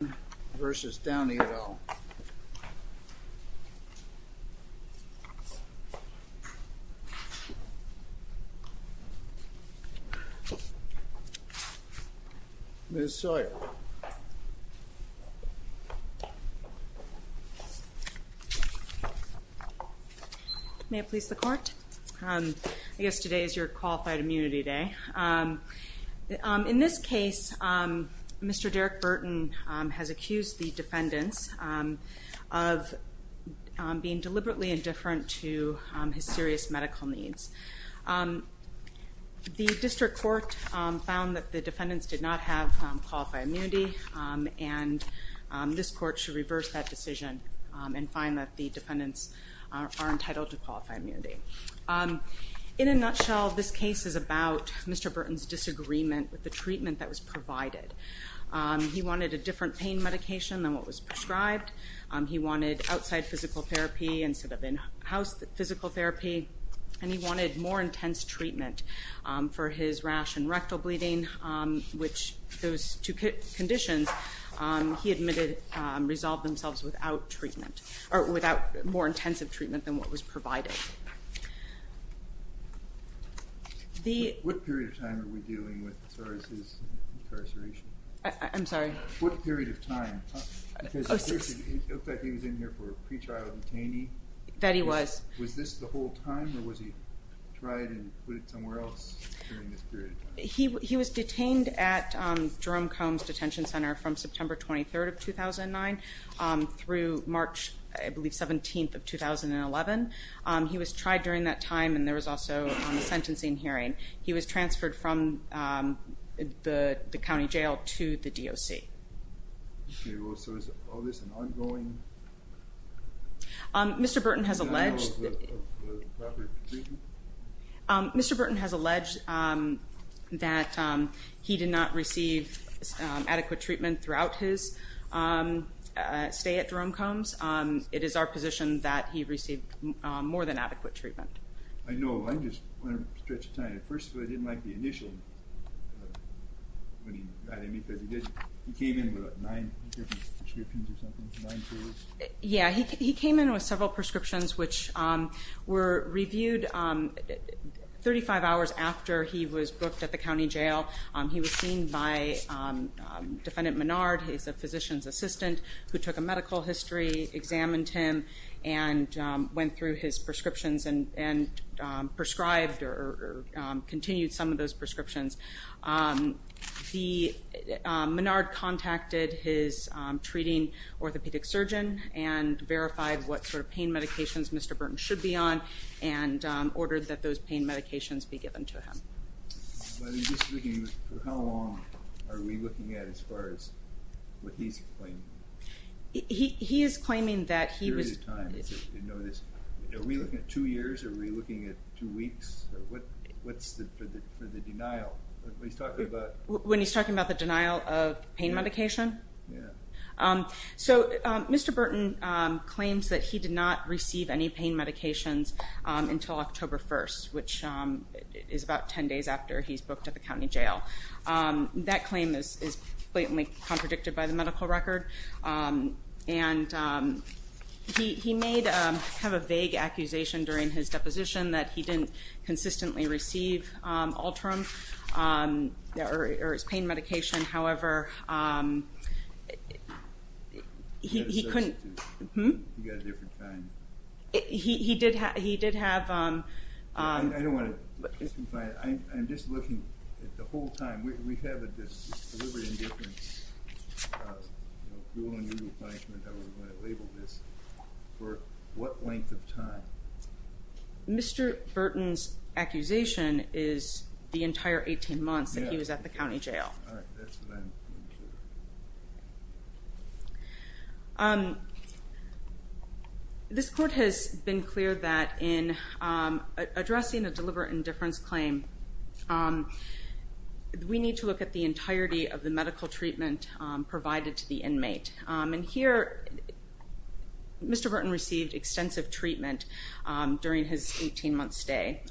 v. Downey et al. Ms. Sawyer. May it please the court. I guess today is your honor that Mr. Burton has accused the defendants of being deliberately indifferent to his serious medical needs. The district court found that the defendants did not have qualified immunity and this court should reverse that decision and find that the defendants are entitled to qualified immunity. In a nutshell, this case is about Mr. Burton's disagreement with the treatment that was provided. He wanted a different pain medication than what was prescribed, he wanted outside physical therapy instead of in-house physical therapy, and he wanted more intense treatment for his rash and rectal bleeding, which those two conditions he admitted resolved themselves without treatment, or without more intensive treatment than what was provided. What period of time are we dealing with his incarceration? I'm sorry? What period of time, because it looks like he was in here for a pre-trial detainee. That he was. Was this the whole time or was he tried and put it somewhere else during this period of time? He was detained at Jerome Combs Detention Center from September 23rd of 2009 through March, I believe, 17th of 2011. He was tried during that time and there was also a sentencing hearing. He was transferred from the county jail to the DOC. So is all this an ongoing... Mr. Burton has alleged... Mr. Burton has alleged that he did not receive adequate treatment throughout his stay at Jerome Combs. It is our position that he received more than adequate treatment. I know, I just want to stretch a time. First of all, I didn't like the initial... He came in with nine different prescriptions or something? Nine pills? prescribed or continued some of those prescriptions. Menard contacted his treating orthopedic surgeon and verified what sort of pain medications Mr. Burton should be on and ordered that those pain medications be given to him. How long are we looking at as far as what he's claiming? He is claiming that he was... Are we looking at two years? Are we looking at two weeks? What's the denial? When he's talking about the denial of pain medication? So Mr. Burton claims that he did not receive any pain medications until October 1st, which is about 10 days after he's booked at the county jail. That claim is blatantly contradicted by the medical record. And he may have a vague accusation during his deposition that he didn't consistently receive Ultram or his pain medication. However, he couldn't... He did have... I don't want to... I'm just looking at the whole time. We have a deliberate indifference... for what length of time? Mr. Burton's accusation is the entire 18 months that he was at the county jail. This court has been clear that in addressing a deliberate indifference claim, we need to look at the entirety of the medical treatment provided to the inmate. And here, Mr. Burton received extensive treatment during his 18 month stay.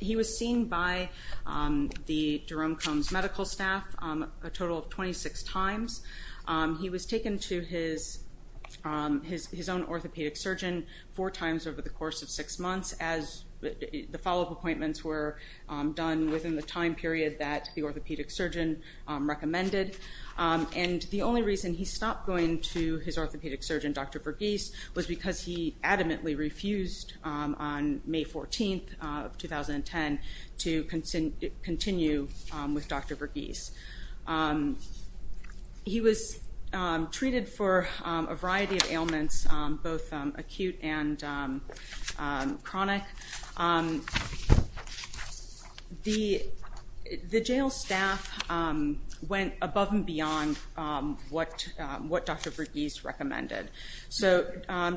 He was seen by the Jerome Combs medical staff a total of 26 times. He was taken to his own orthopedic surgeon four times over the course of six months as the follow-up appointments were done within the time period that the orthopedic surgeon recommended. And the only reason he stopped going to his orthopedic surgeon, Dr. Verghese, was because he adamantly refused on May 14th of 2010 to continue with Dr. Verghese. He was treated for a variety of ailments, both acute and chronic. The jail staff went above and beyond what Dr. Verghese recommended. So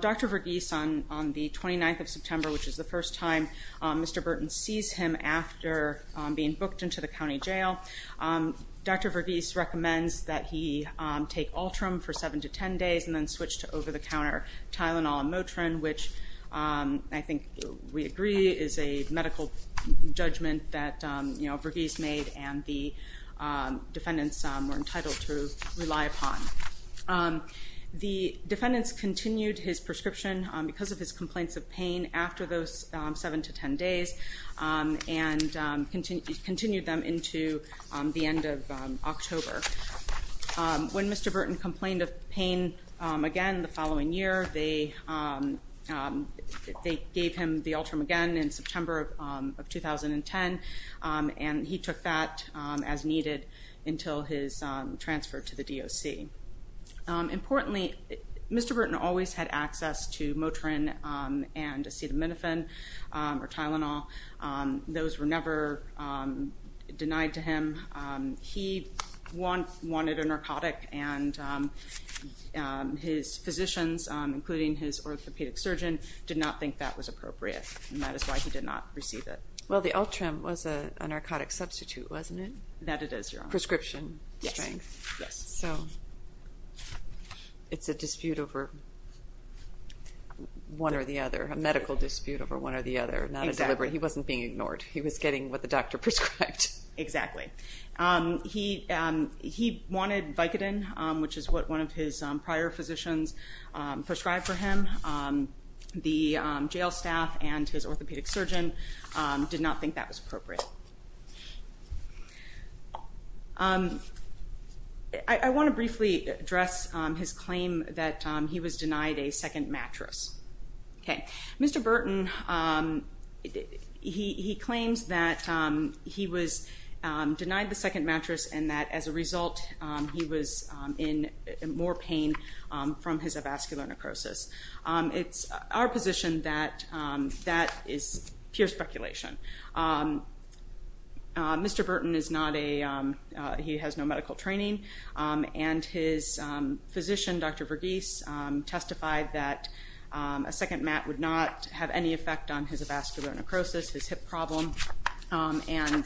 Dr. Verghese, on the 29th of September, which is the first time Mr. Burton sees him after being booked into the county jail, Dr. Verghese recommends that he take Ultram for seven to ten days and then switch to over-the-counter Tylenol and Motrin, which I think we agree is a medical judgment that Verghese made and the defendants were entitled to rely upon. The defendants continued his prescription because of his complaints of pain after those seven to ten days and continued them into the end of October. When Mr. Burton complained of pain again the following year, they gave him the Ultram again in September of 2010 and he took that as needed until his transfer to the DOC. Importantly, Mr. Burton always had access to Motrin and acetaminophen or Tylenol. Those were never denied to him. He wanted a narcotic and his physicians, including his orthopedic surgeon, did not think that was appropriate and that is why he did not receive it. Well, the Ultram was a narcotic substitute, wasn't it? That it is, Your Honor. Prescription strength. Yes. So it's a dispute over one or the other, a medical dispute over one or the other. Exactly. He wasn't being ignored. He was getting what the doctor prescribed. Exactly. He wanted Vicodin, which is what one of his prior physicians prescribed for him. The jail staff and his orthopedic surgeon did not think that was appropriate. I want to briefly address his claim that he was denied a second mattress. Mr. Burton, he claims that he was denied the second mattress and that as a result he was in more pain from his avascular necrosis. It's our position that that is pure speculation. Mr. Burton is not a, he has no medical training and his physician, Dr. Verghese, testified that a second mat would not have any effect on his avascular necrosis, his hip problem, and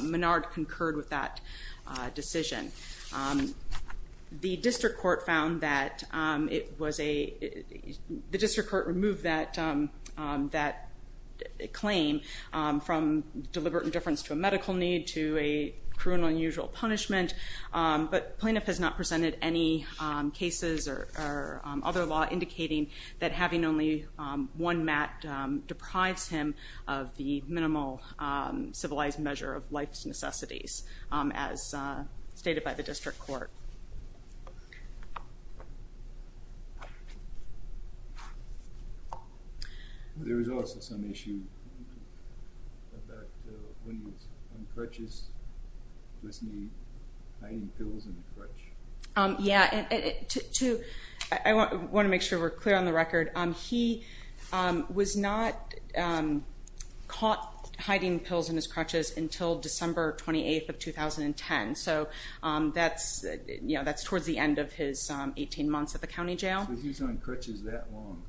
Menard concurred with that decision. The district court found that it was a, the district court removed that claim from deliberate indifference to a medical need to a cruel and unusual punishment, but plaintiff has not presented any cases or other law indicating that having only one mat deprives him of the minimal civilized measure of life's necessities. As stated by the district court. There was also some issue about when he was on crutches, was he hiding pills in the crutch? Yeah, to, I want to make sure we're clear on the record. He was not caught hiding pills in his crutches until December 28th of 2010. So that's, you know, that's towards the end of his 18 months at the county jail. So he was on crutches that long?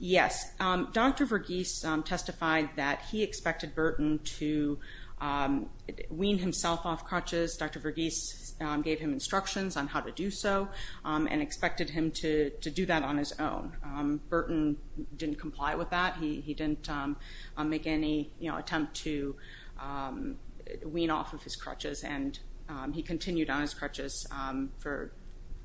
Yes. Dr. Verghese testified that he expected Burton to wean himself off crutches. Dr. Verghese gave him instructions on how to do so and expected him to do that on his own. Burton didn't comply with that. He didn't make any, you know, attempt to wean off of his crutches and he continued on his crutches for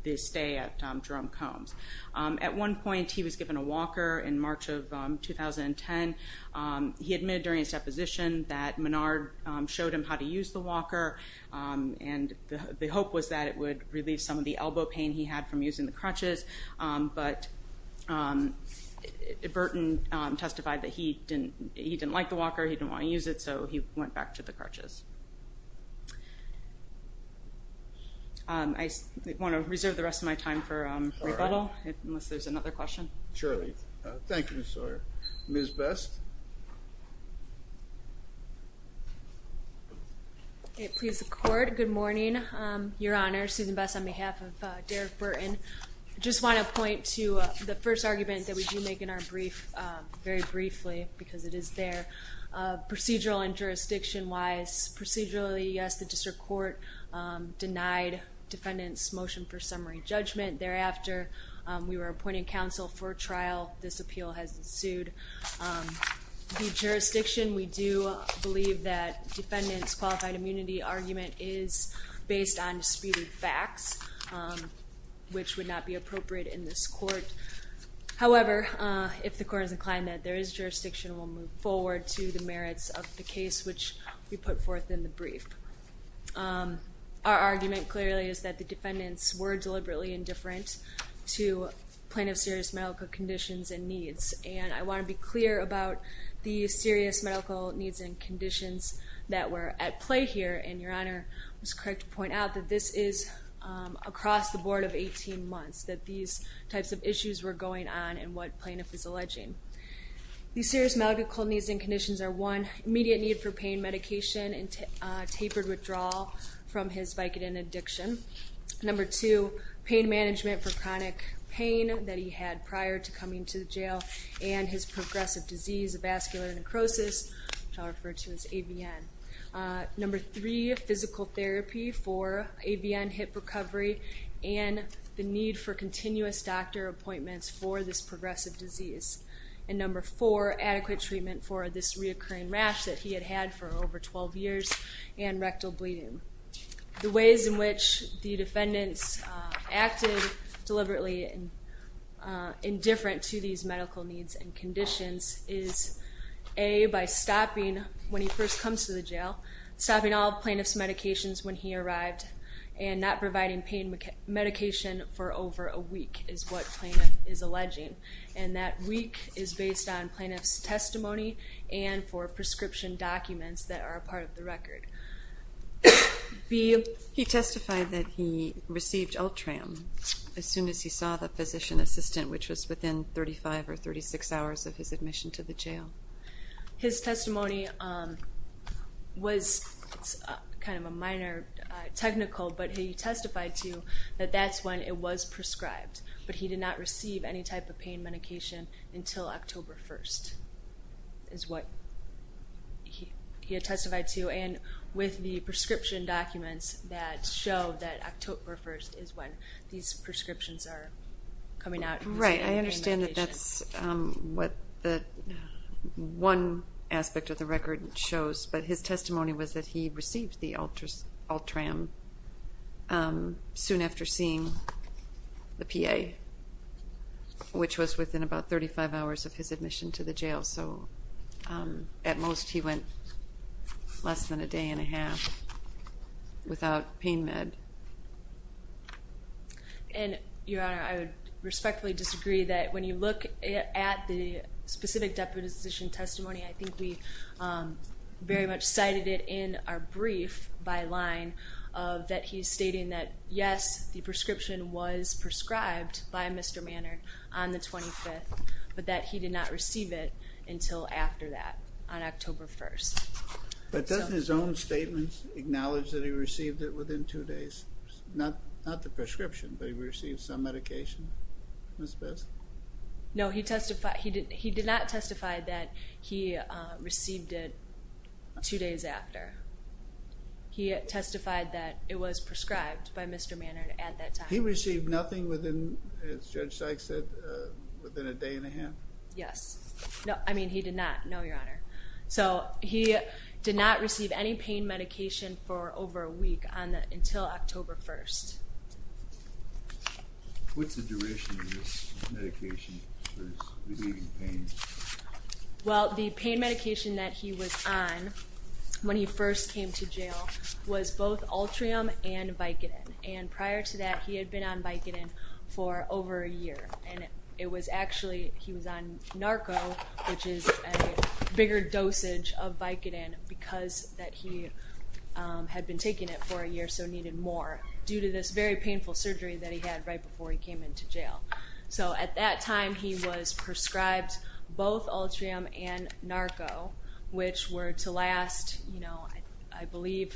the stay at Jerome Combs. At one point he was given a walker in March of 2010. He admitted during his deposition that Menard showed him how to use the walker and the hope was that it would relieve some of the elbow pain he had from using the crutches. But Burton testified that he didn't like the walker, he didn't want to use it, so he went back to the crutches. I want to reserve the rest of my time for rebuttal unless there's another question. Surely. Thank you, Ms. Sawyer. Ms. Best. Please support. Good morning, Your Honor. Susan Best on behalf of Derek Burton. I just want to point to the first argument that we do make in our brief very briefly because it is there. Procedural and jurisdiction-wise, procedurally, yes, the district court denied defendant's motion for summary judgment. Thereafter, we were appointed counsel for trial. This appeal has ensued. The jurisdiction, we do believe that defendant's qualified immunity argument is based on disputed facts, which would not be appropriate in this court. However, if the court is inclined that there is jurisdiction, we'll move forward to the merits of the case, which we put forth in the brief. Our argument clearly is that the defendants were deliberately indifferent to plaintiff's serious medical conditions and needs, and I want to be clear about the serious medical needs and conditions that were at play here, and Your Honor was correct to point out that this is across the board of 18 months, that these types of issues were going on and what plaintiff is alleging. These serious medical needs and conditions are, one, immediate need for pain medication and tapered withdrawal from his Vicodin addiction. Number two, pain management for chronic pain that he had prior to coming to jail and his progressive disease of vascular necrosis, which I'll refer to as AVN. Number three, physical therapy for AVN hip recovery and the need for continuous doctor appointments for this progressive disease. And number four, adequate treatment for this reoccurring rash that he had had for over 12 years and rectal bleeding. The ways in which the defendants acted deliberately indifferent to these medical needs and conditions is, A, by stopping, when he first comes to the jail, stopping all plaintiff's medications when he arrived and not providing pain medication for over a week is what plaintiff is alleging, and that week is based on plaintiff's testimony and for prescription documents that are a part of the record. B. He testified that he received Ultram as soon as he saw the physician assistant, which was within 35 or 36 hours of his admission to the jail. His testimony was kind of a minor technical, but he testified to that that's when it was prescribed, but he did not receive any type of pain medication until October 1st is what he had testified to, and with the prescription documents that show that October 1st is when these prescriptions are coming out. Right. I understand that that's what one aspect of the record shows, but his testimony was that he received the Ultram soon after seeing the PA, which was within about 35 hours of his admission to the jail. So at most he went less than a day and a half without pain med. And, Your Honor, I would respectfully disagree that when you look at the specific deputization testimony, I think we very much cited it in our brief by line that he's stating that, yes, the prescription was prescribed by Mr. Manard on the 25th, but that he did not receive it until after that on October 1st. But doesn't his own statements acknowledge that he received it within two days? Not the prescription, but he received some medication, Ms. Best? No, he did not testify that he received it two days after. He testified that it was prescribed by Mr. Manard at that time. He received nothing within, as Judge Sykes said, within a day and a half? Yes. No, I mean he did not. No, Your Honor. So he did not receive any pain medication for over a week until October 1st. What's the duration of this medication for his relieving pain? Well, the pain medication that he was on when he first came to jail was both Ultrium and Vicodin. And prior to that, he had been on Vicodin for over a year. And it was actually, he was on Narco, which is a bigger dosage of Vicodin because that he had been taking it for a year, so needed more, due to this very painful surgery that he had right before he came into jail. So at that time, he was prescribed both Ultrium and Narco, which were to last, I believe,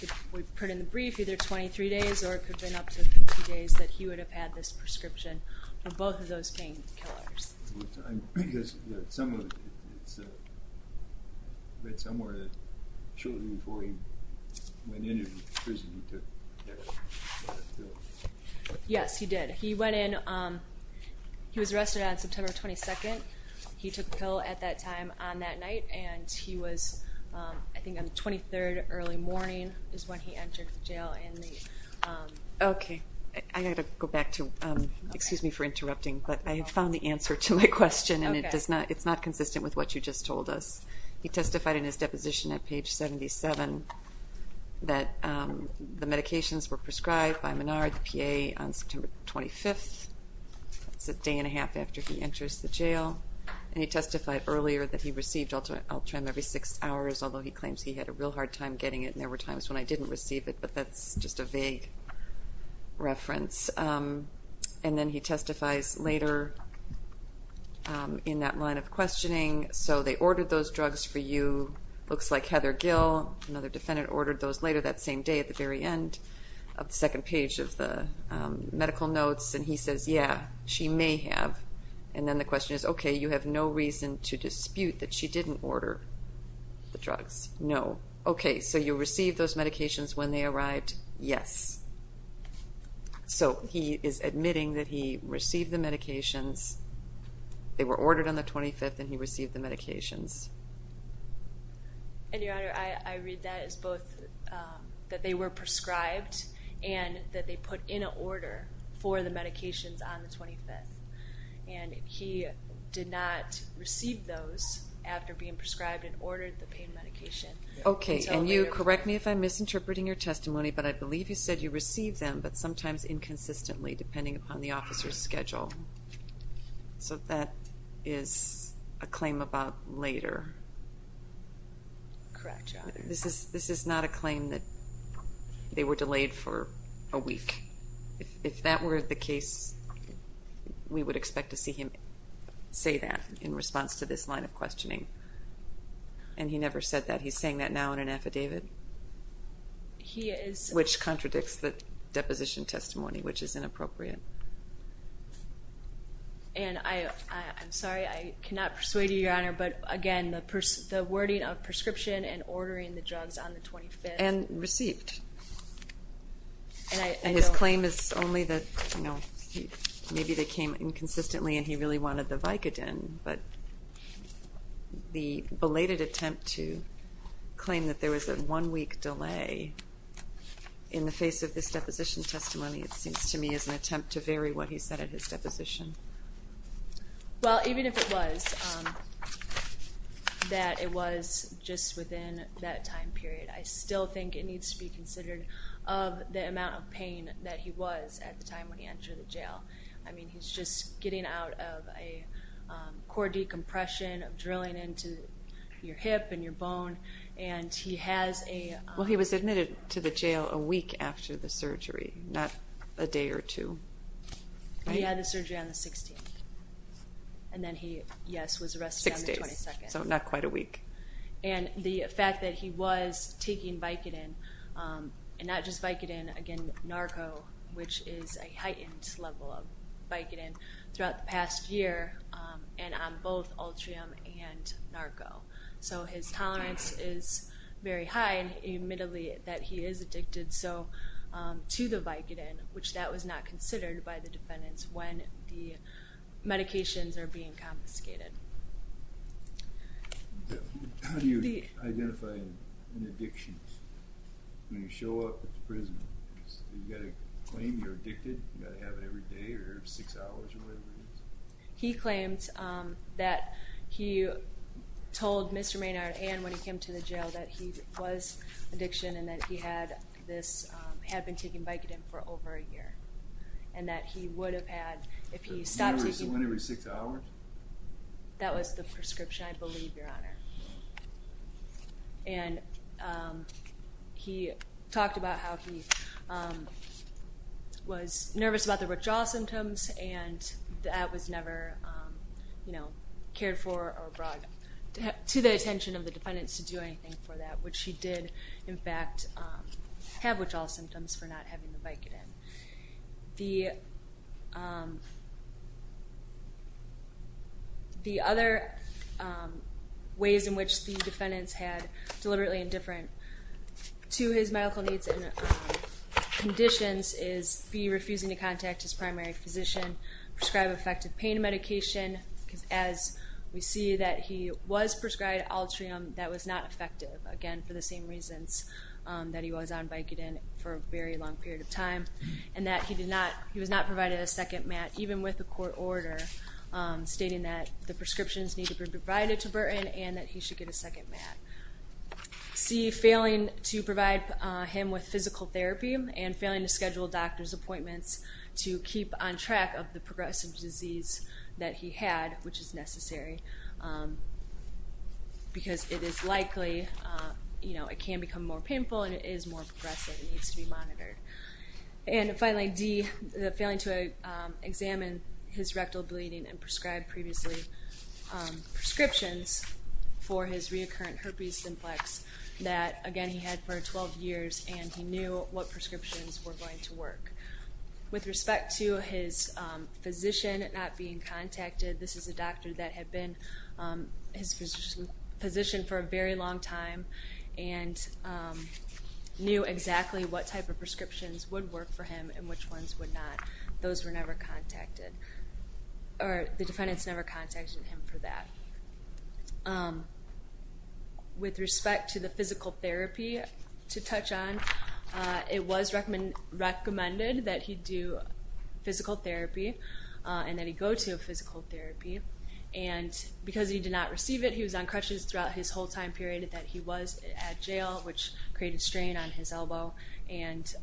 if we put it in the brief, either 23 days or it could have been up to two days that he would have had this prescription for both of those painkillers. Because it's somewhere that shortly before he went into prison, he took Narco? Yes, he did. He went in, he was arrested on September 22nd. He took the pill at that time on that night, and he was, I think on the 23rd, early morning is when he entered jail. Okay. I've got to go back to, excuse me for interrupting, but I have found the answer to my question, and it's not consistent with what you just told us. He testified in his deposition at page 77 that the medications were prescribed by Menard, the PA, on September 25th. That's a day and a half after he enters the jail. And he testified earlier that he received Ultrium every six hours, although he claims he had a real hard time getting it, and there were times when I didn't receive it, but that's just a vague reference. And then he testifies later in that line of questioning. So they ordered those drugs for you. Looks like Heather Gill, another defendant, ordered those later that same day at the very end of the second page of the medical notes, and he says, yeah, she may have. And then the question is, okay, you have no reason to dispute that she didn't order the drugs. No. Okay, so you received those medications when they arrived? Yes. So he is admitting that he received the medications. They were ordered on the 25th, and he received the medications. And, Your Honor, I read that as both that they were prescribed and that they put in an order for the medications on the 25th. And he did not receive those after being prescribed and ordered the pain medication. Okay, and you correct me if I'm misinterpreting your testimony, but I believe you said you received them, but sometimes inconsistently, depending upon the officer's schedule. So that is a claim about later. Correct, Your Honor. This is not a claim that they were delayed for a week. If that were the case, we would expect to see him say that in response to this line of questioning. And he never said that. He's saying that now in an affidavit? He is. Which contradicts the deposition testimony, which is inappropriate. And I'm sorry, I cannot persuade you, Your Honor, but again the wording of prescription and ordering the drugs on the 25th. And received. And his claim is only that maybe they came inconsistently and he really wanted the Vicodin. But the belated attempt to claim that there was a one-week delay in the face of this deposition testimony, it seems to me, is an attempt to vary what he said at his deposition. Well, even if it was that it was just within that time period, I still think it needs to be considered of the amount of pain that he was at the time when he entered the jail. I mean, he's just getting out of a core decompression, drilling into your hip and your bone, and he has a ---- Well, he was admitted to the jail a week after the surgery, not a day or two. He had the surgery on the 16th. And then he, yes, was arrested on the 22nd. Six days, so not quite a week. And the fact that he was taking Vicodin, and not just Vicodin, again, Narco, which is a heightened level of Vicodin, throughout the past year, and on both Ultrium and Narco. So his tolerance is very high, and admittedly that he is addicted to the Vicodin, which that was not considered by the defendants when the medications are being confiscated. How do you identify an addiction? When you show up at the prison, you got to claim you're addicted? You got to have it every day or every six hours or whatever it is? He claimed that he told Mr. Maynard and when he came to the jail that he was addicted and that he had this, had been taking Vicodin for over a year, and that he would have had if he stopped taking it. So one every six hours? That was the prescription, I believe, Your Honor. And he talked about how he was nervous about the withdrawal symptoms and that was never cared for or brought to the attention of the defendants to do anything for that, which he did, in fact, have withdrawal symptoms for not having the Vicodin. The other ways in which the defendants had deliberately indifferent to his medical needs and conditions is be refusing to contact his primary physician, prescribe effective pain medication. As we see that he was prescribed Altrium that was not effective, again, for the same reasons that he was on Vicodin for a very long period of time, and that he was not provided a second med, even with a court order, stating that the prescriptions need to be provided to Burton and that he should get a second med. C, failing to provide him with physical therapy and failing to schedule doctor's appointments to keep on track of the progressive disease that he had, which is necessary because it is likely, you know, it can become more painful and it is more progressive and needs to be monitored. And finally, D, failing to examine his rectal bleeding and prescribe previously prescriptions for his reoccurring herpes simplex that, again, he had for 12 years and he knew what prescriptions were going to work. With respect to his physician not being contacted, this is a doctor that had been his physician for a very long time and knew exactly what type of prescriptions would work for him and which ones would not. Those were never contacted, or the defendants never contacted him for that. With respect to the physical therapy to touch on, it was recommended that he do physical therapy and that he go to physical therapy. And because he did not receive it, he was on crutches throughout his whole time period that he was at jail, which created strain on his elbow and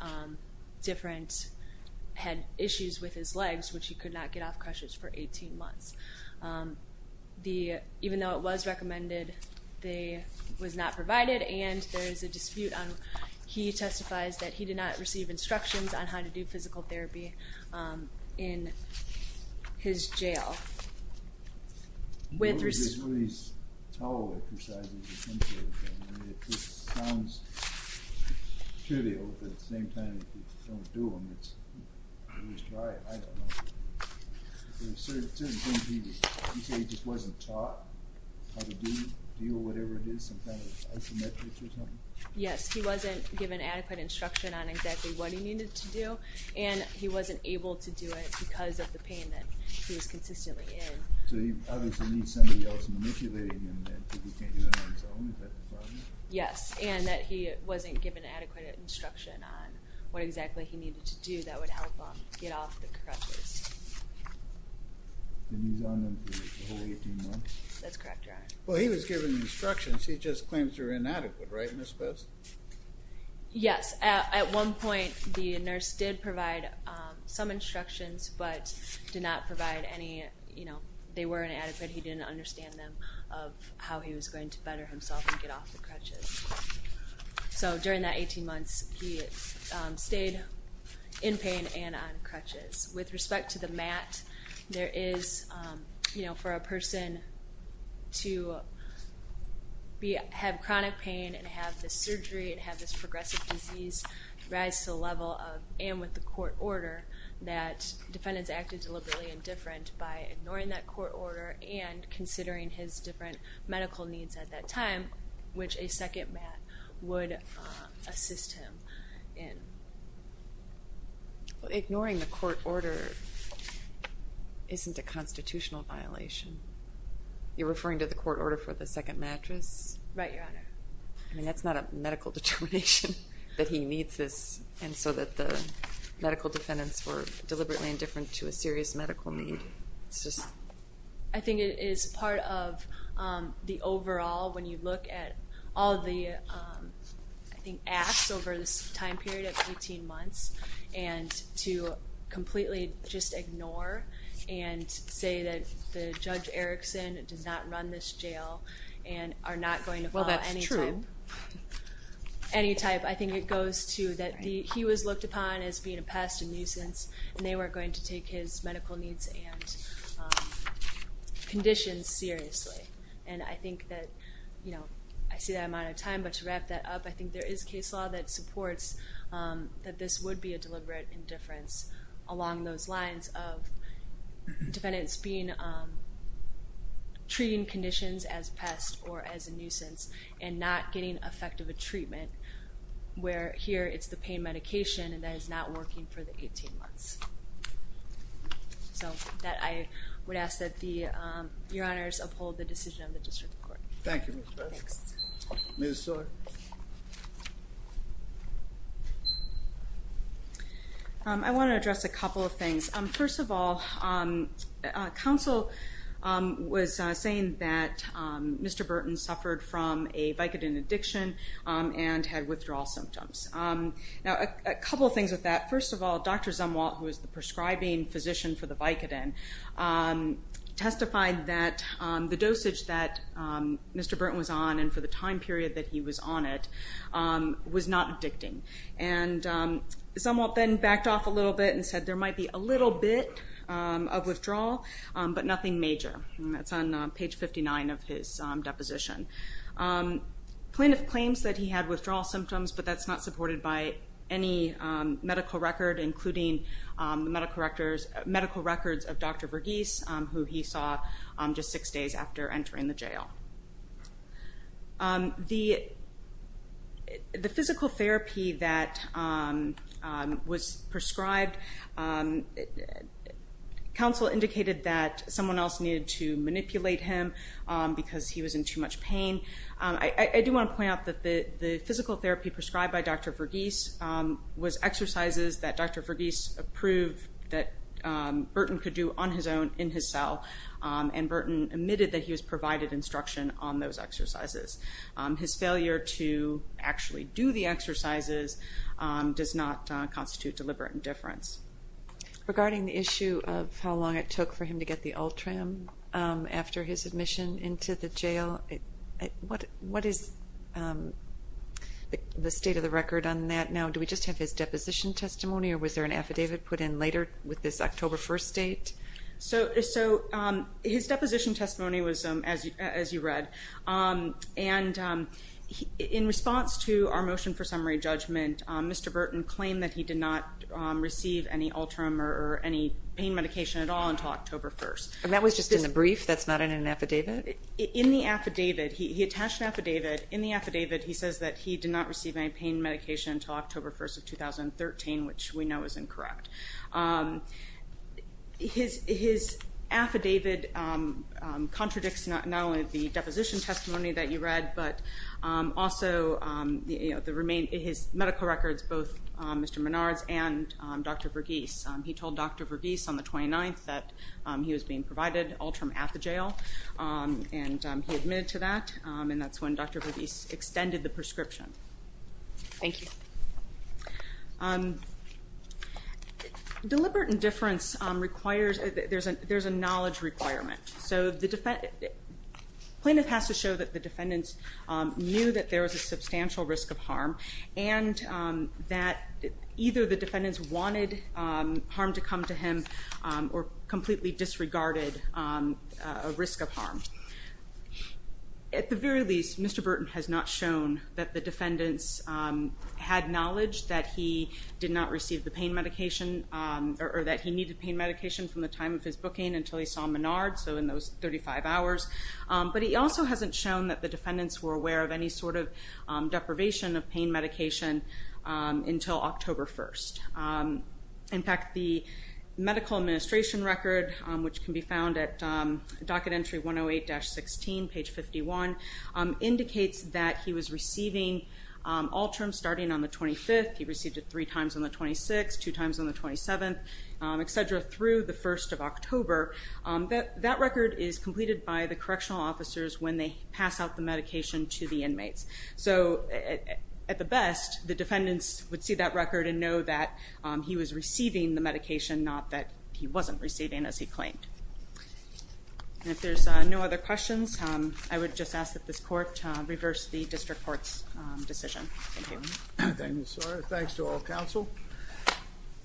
had issues with his legs, which he could not get off crutches for 18 months. Even though it was recommended, it was not provided and there is a dispute. He testifies that he did not receive instructions on how to do physical therapy in his jail. I know there's one of these towel exercises. It sounds trivial, but at the same time, if you don't do them, it's dry. I don't know. You say he just wasn't taught how to do whatever it is, some kind of isometrics or something? Yes, he wasn't given adequate instruction on exactly what he needed to do and he wasn't able to do it because of the pain that he was consistently in. So he obviously needs somebody else manipulating him and he can't do it on his own. Is that the problem? Yes, and that he wasn't given adequate instruction on what exactly he needed to do that would help him get off the crutches. And he's on them for the whole 18 months? That's correct, Your Honor. Well, he was given instructions. He just claims they're inadequate, right, Ms. Bess? Yes, at one point, the nurse did provide some instructions, but did not provide any, you know, they were inadequate. He didn't understand them of how he was going to better himself and get off the crutches. So during that 18 months, he stayed in pain and on crutches. With respect to the MAT, there is, you know, for a person to have chronic pain and have this surgery and have this progressive disease rise to the level of, and with the court order that defendants acted deliberately indifferent by ignoring that court order and considering his different medical needs at that time, which a second MAT would assist him in. Ignoring the court order isn't a constitutional violation. You're referring to the court order for the second mattress? Right, Your Honor. I mean, that's not a medical determination that he needs this and so that the medical defendants were deliberately indifferent to a serious medical need. I think it is part of the overall, when you look at all the, I think, acts over this time period of 18 months, and to completely just ignore and say that Judge Erickson does not run this jail Well, that's true. He was looked upon as being a pest, a nuisance, and they were going to take his medical needs and conditions seriously. And I think that, you know, I see that amount of time, but to wrap that up, I think there is case law that supports that this would be a deliberate indifference along those lines of defendants being, treating conditions as pests or as a nuisance and not getting effective treatment where here it's the pain medication and that is not working for the 18 months. So I would ask that Your Honors uphold the decision of the District Court. Thank you, Ms. Burton. Ms. Soar? I want to address a couple of things. First of all, counsel was saying that Mr. Burton suffered from a Vicodin addiction and had withdrawal symptoms. Now, a couple of things with that. First of all, Dr. Zumwalt, who was the prescribing physician for the Vicodin, testified that the dosage that Mr. Burton was on and for the time period that he was on it was not addicting. And Zumwalt then backed off a little bit and said there might be a little bit of withdrawal, but nothing major. That's on page 59 of his deposition. The plaintiff claims that he had withdrawal symptoms, but that's not supported by any medical record, including medical records of Dr. Verghese, who he saw just six days after entering the jail. The physical therapy that was prescribed, counsel indicated that someone else needed to manipulate him because he was in too much pain. I do want to point out that the physical therapy prescribed by Dr. Verghese was exercises that Dr. Verghese approved that Burton could do on his own, in his cell, and Burton admitted that he was provided instruction on those exercises. His failure to actually do the exercises does not constitute deliberate indifference. Regarding the issue of how long it took for him to get the Ultram after his admission into the jail, what is the state of the record on that now? Do we just have his deposition testimony, or was there an affidavit put in later with this October 1st date? So his deposition testimony was, as you read, and in response to our motion for summary judgment, Mr. Burton claimed that he did not receive any Ultram or any pain medication at all until October 1st. And that was just in the brief? That's not in an affidavit? In the affidavit. He attached an affidavit. In the affidavit he says that he did not receive any pain medication until October 1st of 2013, which we know is incorrect. His affidavit contradicts not only the deposition testimony that you read, but also his medical records, both Mr. Menard's and Dr. Verghese's. He told Dr. Verghese on the 29th that he was being provided Ultram at the jail, and he admitted to that, and that's when Dr. Verghese extended the prescription. Thank you. Deliberate indifference requires, there's a knowledge requirement. So the plaintiff has to show that the defendants knew that there was a substantial risk of harm and that either the defendants wanted harm to come to him or completely disregarded a risk of harm. At the very least, Mr. Burton has not shown that the defendants had knowledge that he did not receive the pain medication or that he needed pain medication from the time of his booking until he saw Menard, so in those 35 hours. But he also hasn't shown that the defendants were aware of any sort of deprivation of pain medication until October 1st. In fact, the medical administration record, which can be found at docket entry 108-16, page 51, indicates that he was receiving Ultram starting on the 25th. He received it three times on the 26th, two times on the 27th, et cetera, through the 1st of October. That record is completed by the correctional officers when they pass out the medication to the inmates. So at the best, the defendants would see that record and know that he was receiving as he claimed. And if there's no other questions, I would just ask that this court reverse the district court's decision. Thank you. Thank you, sir. Thanks to all counsel.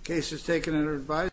Case is taken under advisory.